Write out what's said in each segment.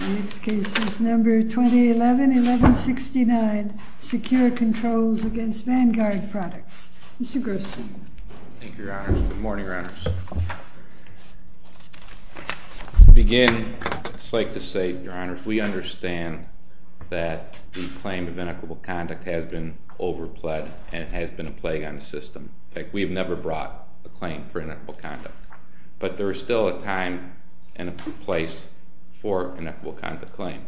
In this case, it's number 2011-1169, Secure Controls against Vanguard Products. Mr. Gerstle. Thank you, Your Honors. Good morning, Your Honors. To begin, I'd just like to say, Your Honors, we understand that the claim of inequitable conduct has been over-pled, and it has been a plague on the system. We've never brought a claim for inequitable conduct. But there is still a time and a place for inequitable conduct claim.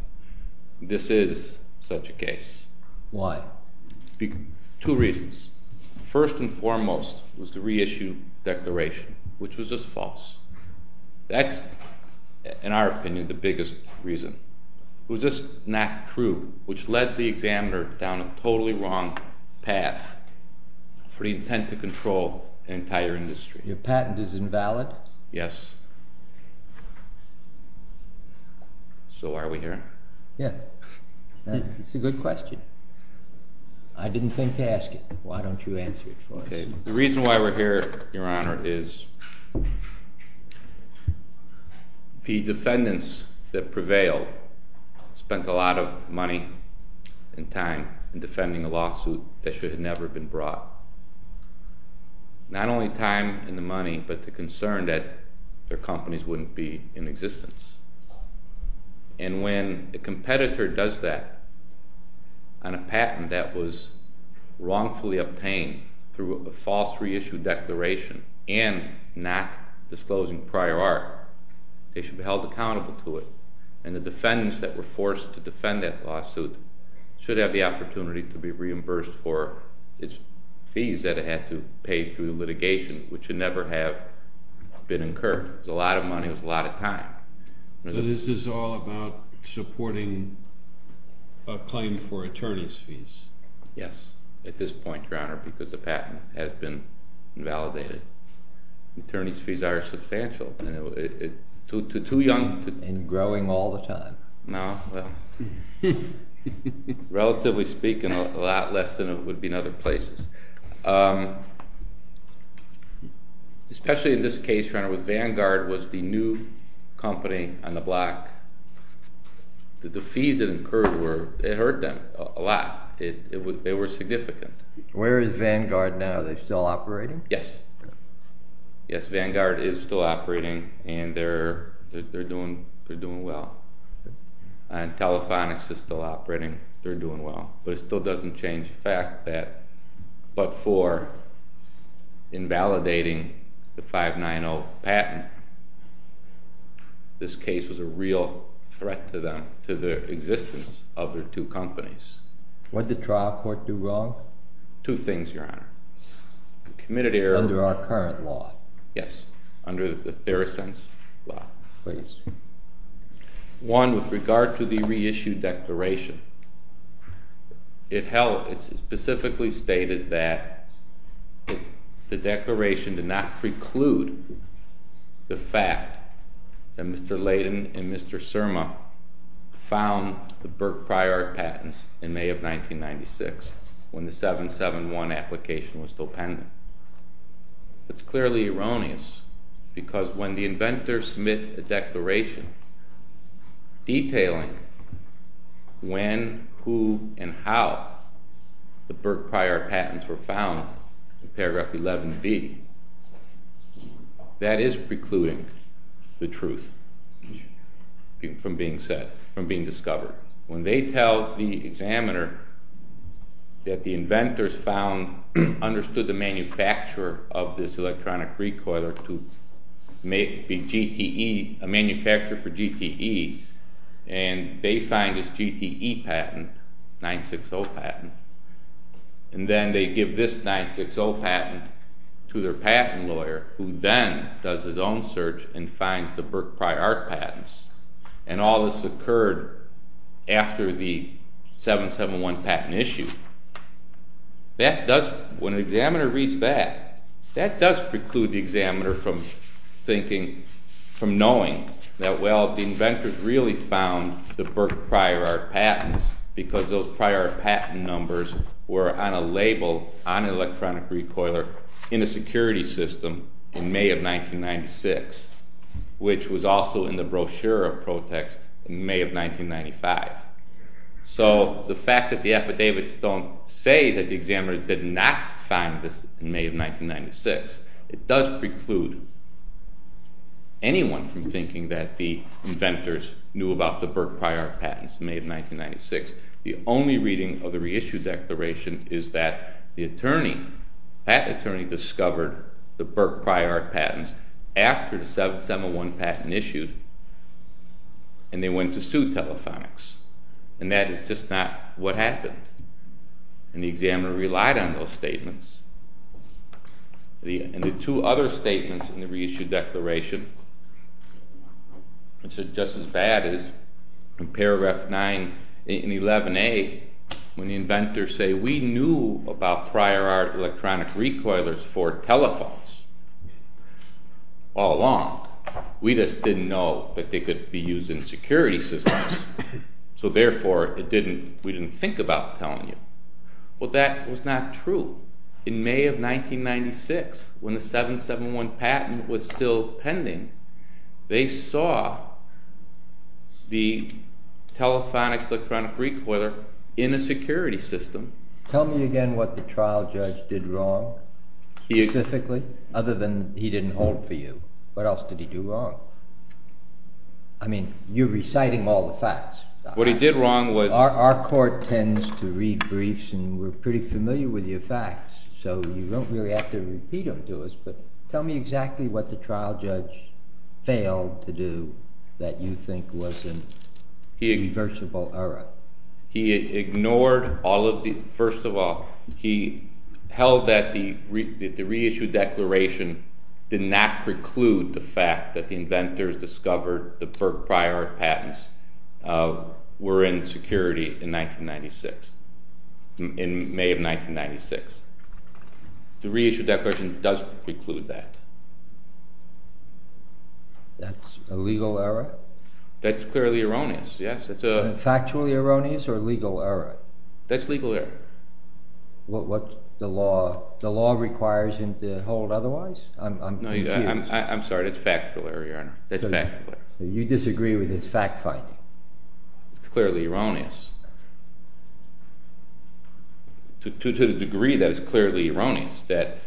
This is such a case. Why? Two reasons. First and foremost was the reissue declaration, which was just false. That's, in our opinion, the biggest reason. It was just not true, which led the examiner down a totally wrong path for the intent to control an entire industry. Your patent is invalid? Yes. So why are we here? Yeah. It's a good question. I didn't think to ask it. Why don't you answer it for us? The reason why we're here, Your Honor, is the defendants that prevailed spent a lot of money and time in defending a lawsuit that should have never been brought. Not only time and the money, but the concern that their companies wouldn't be in existence. And when a competitor does that on a patent that was wrongfully obtained through a false reissue declaration and not disclosing prior art, they should be held accountable to it. And the defendants that were forced to defend that lawsuit should have the opportunity to be reimbursed for its fees that it had to pay through litigation, which should never have been incurred. It was a lot of money. It was a lot of time. So this is all about supporting a claim for attorney's fees? Yes, at this point, Your Honor, because the patent has been invalidated. Attorney's fees are substantial. Too young. And growing all the time. No. Relatively speaking, a lot less than it would be in other places. Especially in this case, Your Honor, when Vanguard was the new company on the block, the fees that incurred were, it hurt them a lot. They were significant. Where is Vanguard now? Are they still operating? Yes. Yes, Vanguard is still operating. And they're doing well. And Telefonics is still operating. They're doing well. But it still doesn't change the fact that, but for invalidating the 590 patent, this case was a real threat to them, to the existence of their two companies. What did trial court do wrong? Two things, Your Honor. Committed error. Under our current law. Yes. Under the Theracents law. Please. One, with regard to the reissued declaration, it specifically stated that the declaration did not preclude the fact that Mr. Layden and Mr. Surma found the Burke Pryor patents in May of 1996, when the 771 application was still pending. That's clearly erroneous. Because when the inventors submit a declaration detailing when, who, and how the Burke Pryor patents were found in paragraph 11b, that is precluding the truth from being said, from being discovered. When they tell the examiner that the inventors found, understood the manufacturer of this electronic recoiler to make the GTE, a manufacturer for GTE, and they find this GTE patent, 960 patent. And then they give this 960 patent to their patent lawyer, who then does his own search and finds the Burke Pryor patents. And all this occurred after the 771 patent issue. That does, when an examiner reads that, that does preclude the examiner from thinking, from knowing that, well, the inventors really found the Burke Pryor patents, because those Pryor patent numbers were on a label on an electronic recoiler in a security system in May of 1996, which was also in the brochure of Protex in May of 1995. So the fact that the affidavits don't say that the examiner did not find this in May of 1996, it does preclude anyone from thinking that the inventors knew about the Burke Pryor patents in May of 1996. The only reading of the reissued declaration is that the attorney, patent attorney, discovered the Burke Pryor patents after the 771 patent issued. And they went to sue telephonics. And that is just not what happened. And the examiner relied on those statements. And the two other statements in the reissued declaration, which are just as bad as in paragraph 9 in 11a, when the inventors say, we knew about Pryor electronic recoilers for telephones all along. We just didn't know that they could be used in security systems. So therefore, we didn't think about telling you. Well, that was not true. In May of 1996, when the 771 patent was still pending, they saw the telephonic electronic recoiler in a security system. Tell me again what the trial judge did wrong, specifically, other than he didn't hold for you. What else did he do wrong? I mean, you're reciting all the facts. What he did wrong was our court tends to read briefs. And we're pretty familiar with your facts. So you don't really have to repeat them to us. But tell me exactly what the trial judge failed to do that you think was an irreversible error. He ignored all of the, first of all, he held that the reissued declaration did not preclude the fact that the inventors discovered the Burk-Priort patents were in security in May of 1996. The reissued declaration does preclude that. That's a legal error? That's clearly erroneous, yes. Factually erroneous or legal error? That's legal error. What's the law? The law requires him to hold otherwise? I'm sorry, that's factually error, Your Honor. That's factually error. You disagree with his fact-finding? It's clearly erroneous, to the degree that it's clearly erroneous that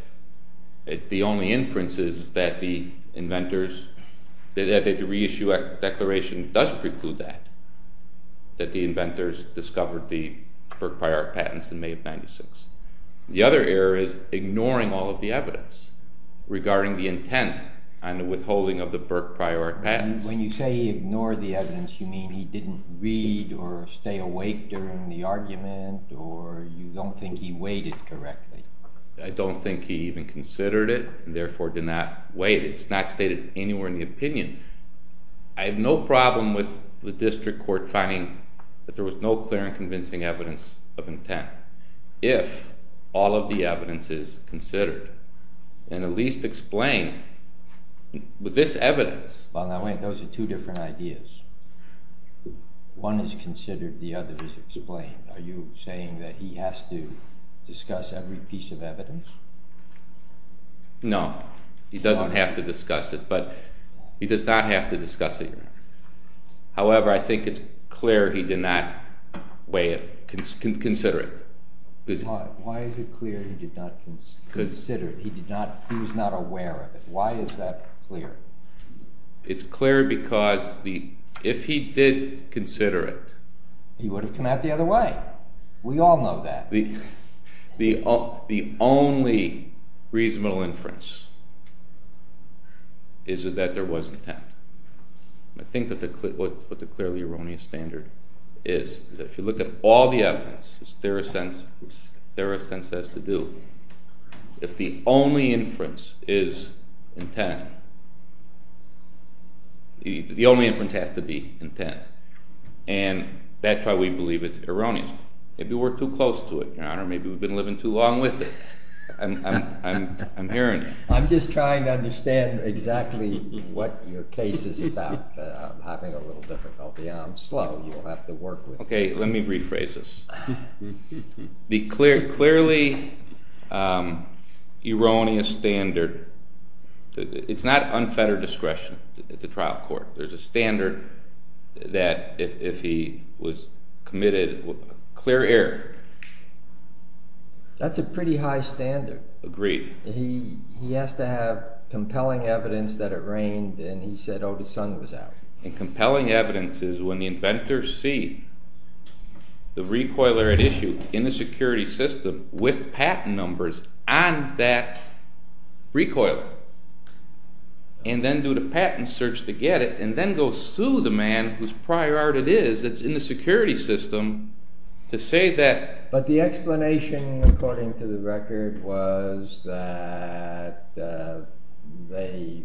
the only inference is that the inventors, that the reissued declaration does preclude that, that the inventors discovered the Burk-Priort patents in May of 1996. The other error is ignoring all of the evidence, regarding the intent and the withholding of the Burk-Priort patents. When you say he ignored the evidence, you mean he didn't read or stay awake during the argument, or you don't think he waited correctly? I don't think he even considered it, and therefore did not wait. It's not stated anywhere in the opinion. I have no problem with the district court finding that there was no clear and convincing evidence of intent, if all of the evidence is considered and at least explained with this evidence. Well, now wait, those are two different ideas. One is considered, the other is explained. Are you saying that he has to discuss every piece of evidence? No, he doesn't have to discuss it, but he does not have to discuss it, Your Honor. However, I think it's clear he did not consider it. Why is it clear he did not consider it? He was not aware of it. Why is that clear? It's clear because if he did consider it. He would have come out the other way. We all know that. The only reasonable inference is that there was intent. I think that's what the clearly erroneous standard is, is that if you look at all the evidence, there is sense that has to do. If the only inference is intent, the only inference has to be intent. And that's why we believe it's erroneous. Maybe we're too close to it, Your Honor. Maybe we've been living too long with it. I'm hearing you. I'm just trying to understand exactly what your case is about. I'm having a little difficulty. I'm slow. You'll have to work with me. OK, let me rephrase this. The clearly erroneous standard, it's not unfettered discretion at the trial court. There's a standard that if he was committed clear error. That's a pretty high standard. Agreed. He has to have compelling evidence that it rained, and he said, oh, the sun was out. And compelling evidence is when the inventors see the recoiler at issue in the security system with patent numbers on that recoiler, and then do the patent search to get it, and then go sue the man whose prior art it is that's in the security system to say that. But the explanation, according to the record, was that they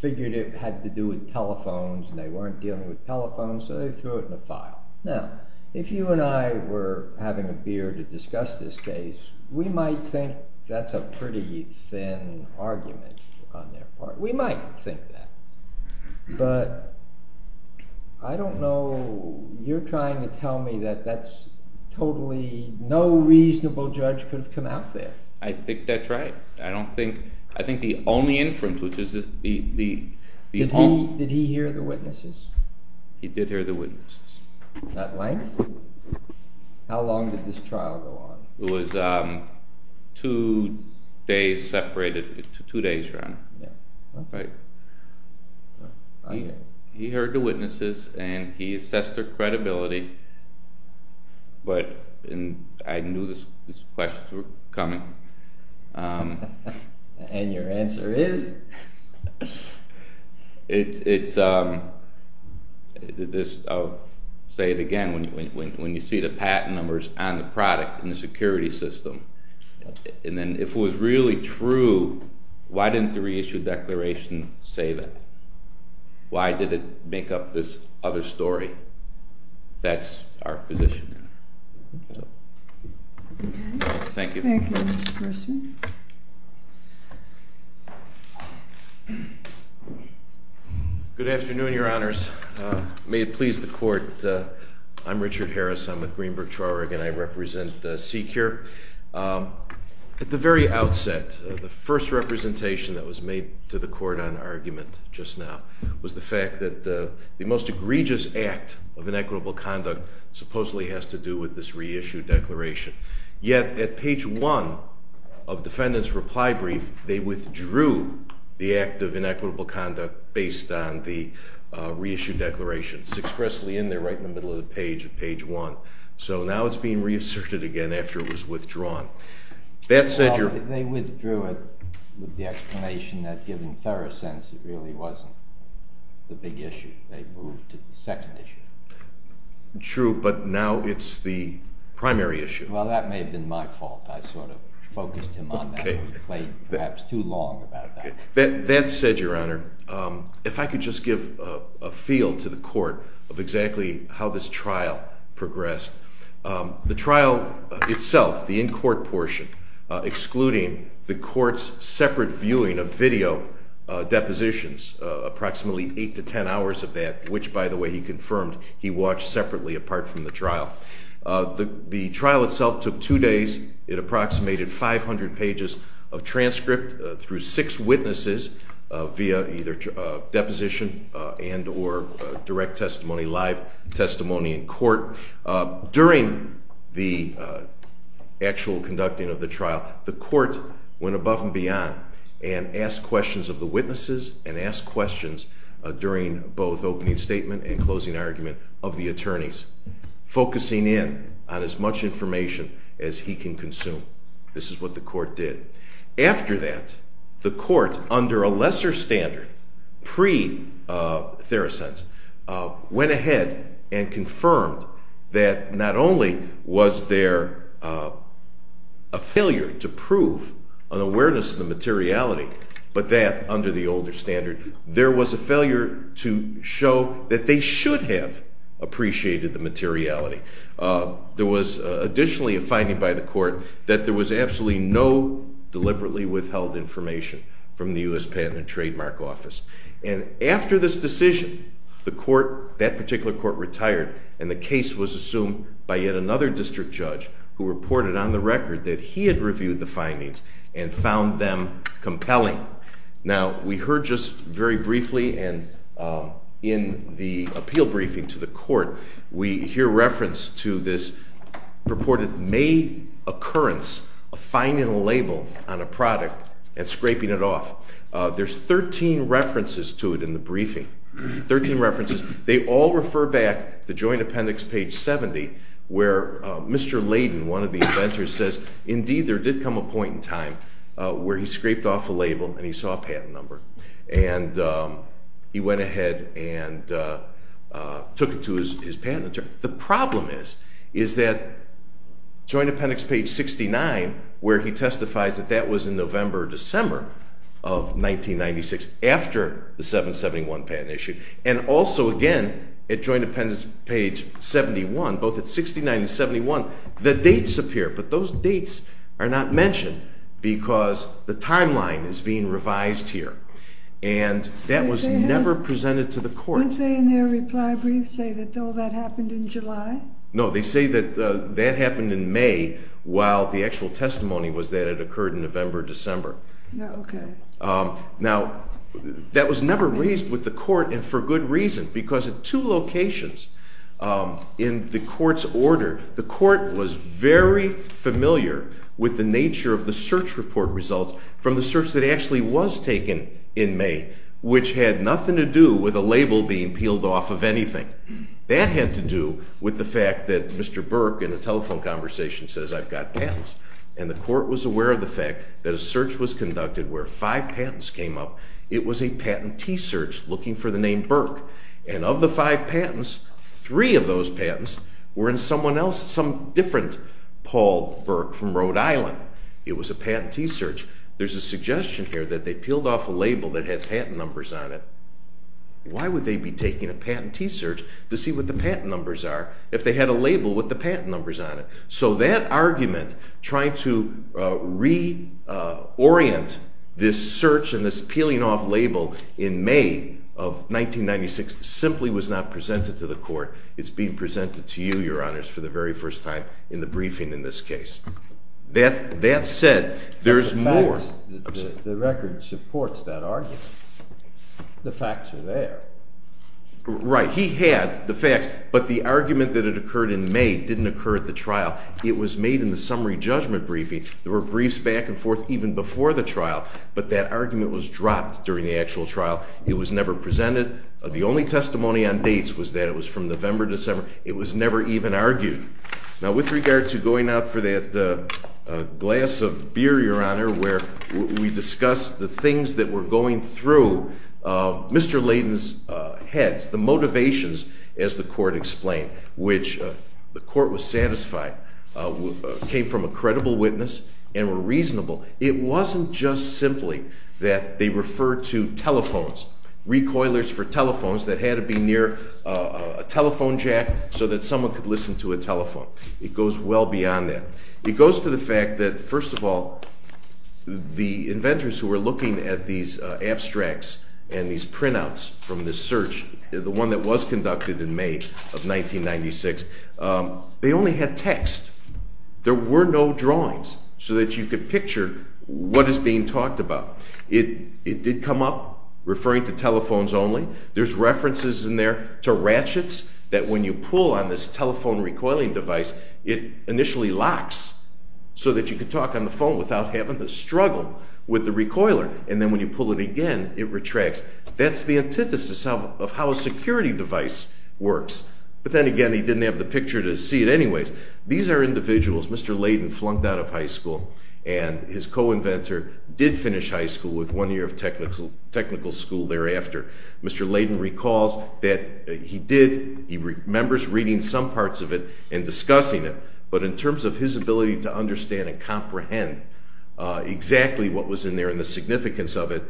figured it had to do with telephones, and they weren't dealing with telephones, so they threw it in the file. Now, if you and I were having a beer to discuss this case, we might think that's a pretty thin argument on their part. We might think that. But I don't know. You're trying to tell me that that's totally no reasonable judge could have come out there. I think that's right. I don't think. I think the only inference, which is the only. Did he hear the witnesses? He did hear the witnesses. At length? How long did this trial go on? It was two days separated. Two days, Your Honor. Yeah. Right. He heard the witnesses, and he assessed their credibility. But I knew these questions were coming. And your answer is? I'll say it again. When you see the patent numbers on the product in the security system, and then if it was really true, why didn't the reissue declaration say that? Why did it make up this other story that that's our position? Thank you. Thank you, Mr. Mercer. Good afternoon, Your Honors. May it please the court. I'm Richard Harris. I'm with Greenberg Traurig, and I represent SECURE. At the very outset, the first representation that was made to the court on argument just now was the fact that the most egregious act of inequitable conduct supposedly has to do with this reissue declaration. Yet at page one of defendant's reply brief, they withdrew the act of inequitable conduct based on the reissue declaration. It's expressly in there right in the middle of the page, at page one. So now it's being reasserted again after it was withdrawn. That said, Your Honor. They withdrew it with the explanation that, given thorough sense, it really wasn't the big issue. They moved to the second issue. True, but now it's the primary issue. Well, that may have been my fault. I sort of focused him on that. OK. He played, perhaps, too long about that. That said, Your Honor, if I could just give a feel to the court of exactly how this trial progressed. The trial itself, the in-court portion, excluding the court's separate viewing of video depositions, approximately eight to 10 hours of that, which, by the way, he confirmed he watched separately apart from the trial. The trial itself took two days. It approximated 500 pages of transcript through six witnesses via either deposition and or direct testimony, live testimony in court. During the actual conducting of the trial, the court went above and beyond and asked questions of the witnesses and asked questions during both opening statement and closing argument of the attorneys, focusing in on as much information as he can consume. This is what the court did. After that, the court, under a lesser standard, pre-thorough sense, went ahead and confirmed that not only was there a failure to prove an awareness of the materiality, but that, under the older standard, there was a failure to show that they should have appreciated the materiality. There was additionally a finding by the court that there was absolutely no deliberately withheld information from the US Patent and Trademark Office. And after this decision, that particular court retired, and the case was assumed by yet another district judge who reported on the record that he had reviewed the findings and found them compelling. Now, we heard just very briefly, and in the appeal briefing to the court, we hear reference to this purported made occurrence of finding a label on a product and scraping it off. There's 13 references to it in the briefing, 13 references. They all refer back to joint appendix page 70, where Mr. Layden, one of the inventors, says, indeed, there did come a point in time where he scraped off a label, and he saw a patent number. And he went ahead and took it to his patent attorney. The problem is that joint appendix page 69, where he testifies that that was in November or December of 1996 after the 771 patent issue, and also, again, at joint appendix page 71, both at 69 and 71, the dates appear. But those dates are not mentioned, because the timeline is being revised here. And that was never presented to the court. Didn't they, in their reply brief, say that all that happened in July? No, they say that that happened in May, while the actual testimony was that it occurred in November or December. Now, that was never raised with the court, and for good reason, because at two locations in the court's was very familiar with the nature of the search report results from the search that actually was taken in May, which had nothing to do with a label being peeled off of anything. That had to do with the fact that Mr. Burke, in a telephone conversation, says, I've got patents. And the court was aware of the fact that a search was conducted where five patents came up. It was a patentee search looking for the name Burke. And of the five patents, three of those patents were in someone else, some different Paul Burke from Rhode Island. It was a patentee search. There's a suggestion here that they peeled off a label that had patent numbers on it. Why would they be taking a patentee search to see what the patent numbers are, if they had a label with the patent numbers on it? So that argument, trying to reorient simply was not presented to the court. It's being presented to you, Your Honors, for the very first time in the briefing in this case. The record supports that argument. The facts are there. Right. He had the facts. But the argument that it occurred in May didn't occur at the trial. It was made in the summary judgment briefing. There were briefs back and forth even before the trial. But that argument was dropped during the actual trial. It was never presented. The only testimony on dates was that it was never even argued. Now, with regard to going out for that glass of beer, Your Honor, where we discussed the things that were going through Mr. Layden's head, the motivations, as the court explained, which the court was satisfied came from a credible witness and were reasonable. It wasn't just simply that they referred to telephones, recoilers for telephones that had to be near a telephone jack so that someone could listen to a telephone. It goes well beyond that. It goes to the fact that, first of all, the inventors who were looking at these abstracts and these printouts from this search, the one that was conducted in May of 1996, they only had text. There were no drawings so that you could picture what is being talked about. It did come up referring to telephones only. There's references in there to ratchets that when you pull on this telephone recoiling device, it initially locks so that you could talk on the phone without having to struggle with the recoiler. And then when you pull it again, it retracts. That's the antithesis of how a security device works. But then again, he didn't have the picture to see it anyways. These are individuals. Mr. Layden flunked out of high school. And his co-inventor did finish high school with one year of technical school thereafter. Mr. Layden recalls that he did. He remembers reading some parts of it and discussing it. But in terms of his ability to understand and comprehend exactly what was in there and the significance of it,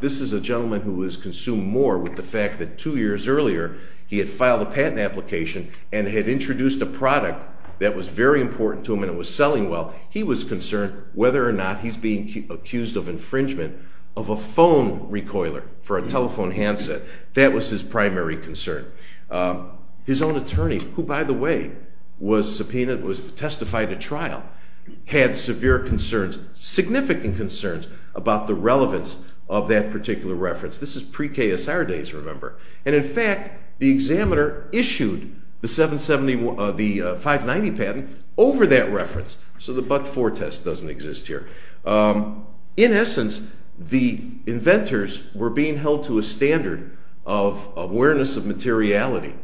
this is a gentleman who has consumed more with the fact that two years earlier, he had filed a patent application and had introduced a product that was very important to him and it was selling well. He was concerned whether or not he's being accused of infringement of a phone recoiler for a telephone handset. That was his primary concern. His own attorney, who, by the way, was subpoenaed, was testified at trial, had severe concerns, significant concerns about the relevance of that particular reference. This is pre-KSR days, remember. And in fact, the examiner issued the 590 patent over that reference. So the but-for test doesn't exist here. In essence, the inventors were being held to a standard of awareness of materiality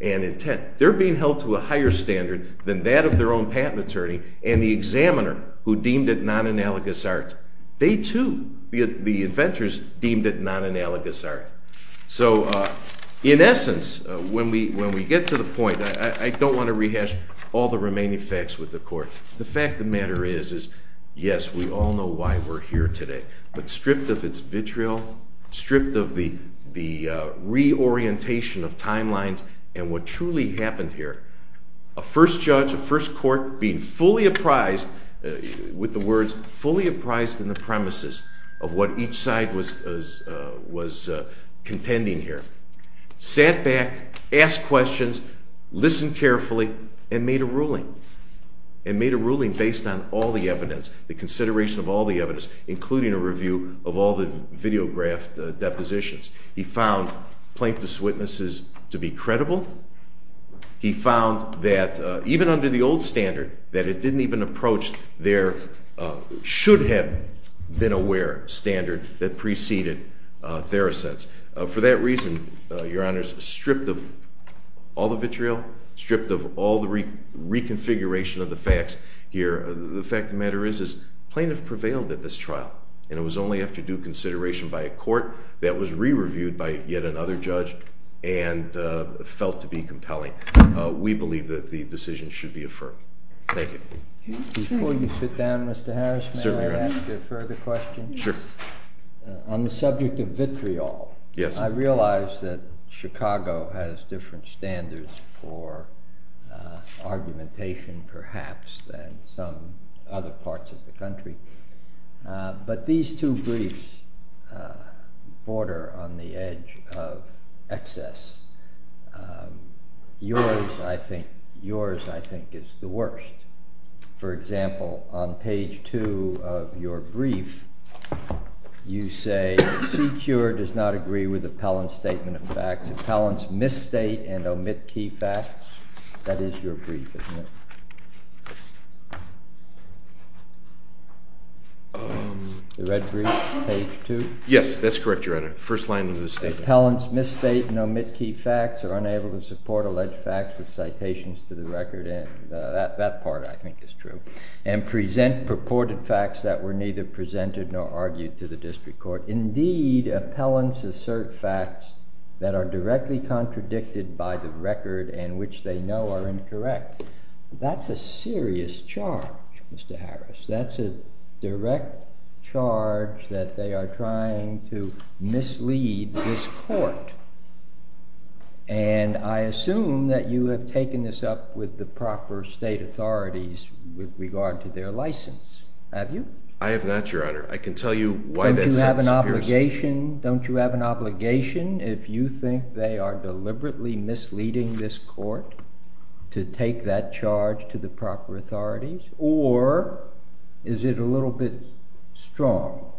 and intent. They're being held to a higher standard than that of their own patent attorney and the examiner, who deemed it non-analogous art. They too, the inventors, deemed it non-analogous art. So in essence, when we get to the point, I don't want to rehash all the remaining facts with the court. The fact of the matter is, yes, we all know why we're here today. But stripped of its vitriol, stripped of the reorientation of timelines, and what truly happened here, a first judge, a first court, being fully apprised, with the words, fully apprised in the premises of what each side was contending here, sat back, asked questions, listened carefully, and made a ruling. And made a ruling based on all the evidence, the consideration of all the evidence, including a review of all the videographed depositions. He found plaintiff's witnesses to be credible. He found that, even under the old standard, that it didn't even approach their should-have-been-aware standard that preceded Theracet's. For that reason, Your Honors, stripped of all the vitriol, stripped of all the reconfiguration of the facts here, the fact of the matter is, plaintiff prevailed at this trial. And it was only after due consideration by a court that was re-reviewed by yet another judge and felt to be compelling. We believe that the decision should be affirmed. Thank you. Before you sit down, Mr. Harris, may I ask a further question? Sure. On the subject of vitriol, I realize that Chicago has different standards for argumentation, perhaps, than some other parts of the country. But these two briefs border on the edge of excess. Yours, I think, is the worst. For example, on page two of your brief, you say, C. Cure does not agree with appellant's statement of facts. Appellants misstate and omit key facts. That is your brief, isn't it? The red brief, page two? Yes, that's correct, Your Honor. First line of the statement. Appellants misstate and omit key facts or unable to support alleged facts with citations to the record. And that part, I think, is true. And present purported facts that were neither presented nor argued to the district court. Indeed, appellants assert facts that are directly contradicted by the record and which they know are incorrect. That's a serious charge, Mr. Harris. That's a direct charge that they are trying to mislead this court. And I assume that you have taken this up with the proper state authorities with regard to their license. Have you? I have not, Your Honor. I can tell you why that sentence appears to me. Don't you have an obligation, if you think they are deliberately misleading this court, to take that charge to the proper authorities? Or is it a little bit strong?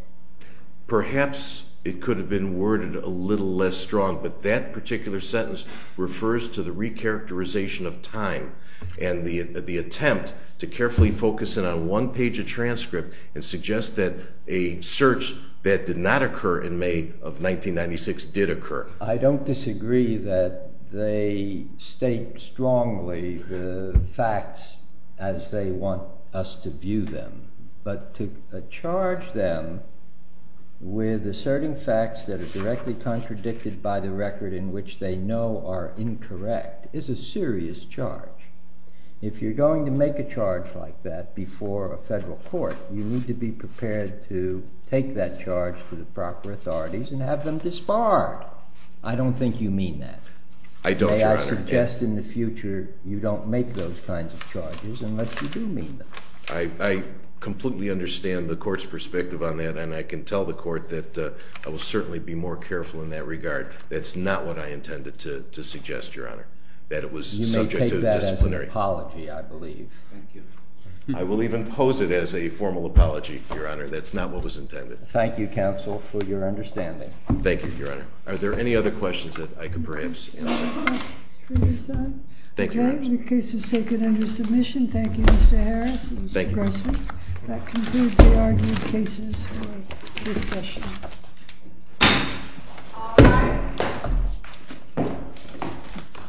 Perhaps it could have been worded a little less strong. But that particular sentence refers to the recharacterization of time and the attempt to carefully focus in on one page of transcript and suggest that a search that did not occur in May of 1996 did occur. I don't disagree that they state strongly the facts as they want us to view them. But to charge them with asserting facts that are directly contradicted by the record in which they know are incorrect is a serious charge. If you're going to make a charge like that before a federal court, you need to be prepared to take that charge to the proper authorities and have them disbarred. I don't think you mean that. I don't, Your Honor. May I suggest in the future you don't make those kinds of charges unless you do mean them? I completely understand the court's perspective on that. And I can tell the court that I will certainly be more careful in that regard. That's not what I intended to suggest, Your Honor, that it was subject to disciplinary. You may take that as an apology, I believe. Thank you. I will even pose it as a formal apology, Your Honor. That's not what was intended. Thank you, counsel, for your understanding. Thank you, Your Honor. Are there any other questions that I could perhaps answer? No questions for your son. Thank you, Your Honor. OK, the case is taken under submission. Thank you, Mr. Harris and Mr. Grossman. That concludes the argument cases for this session.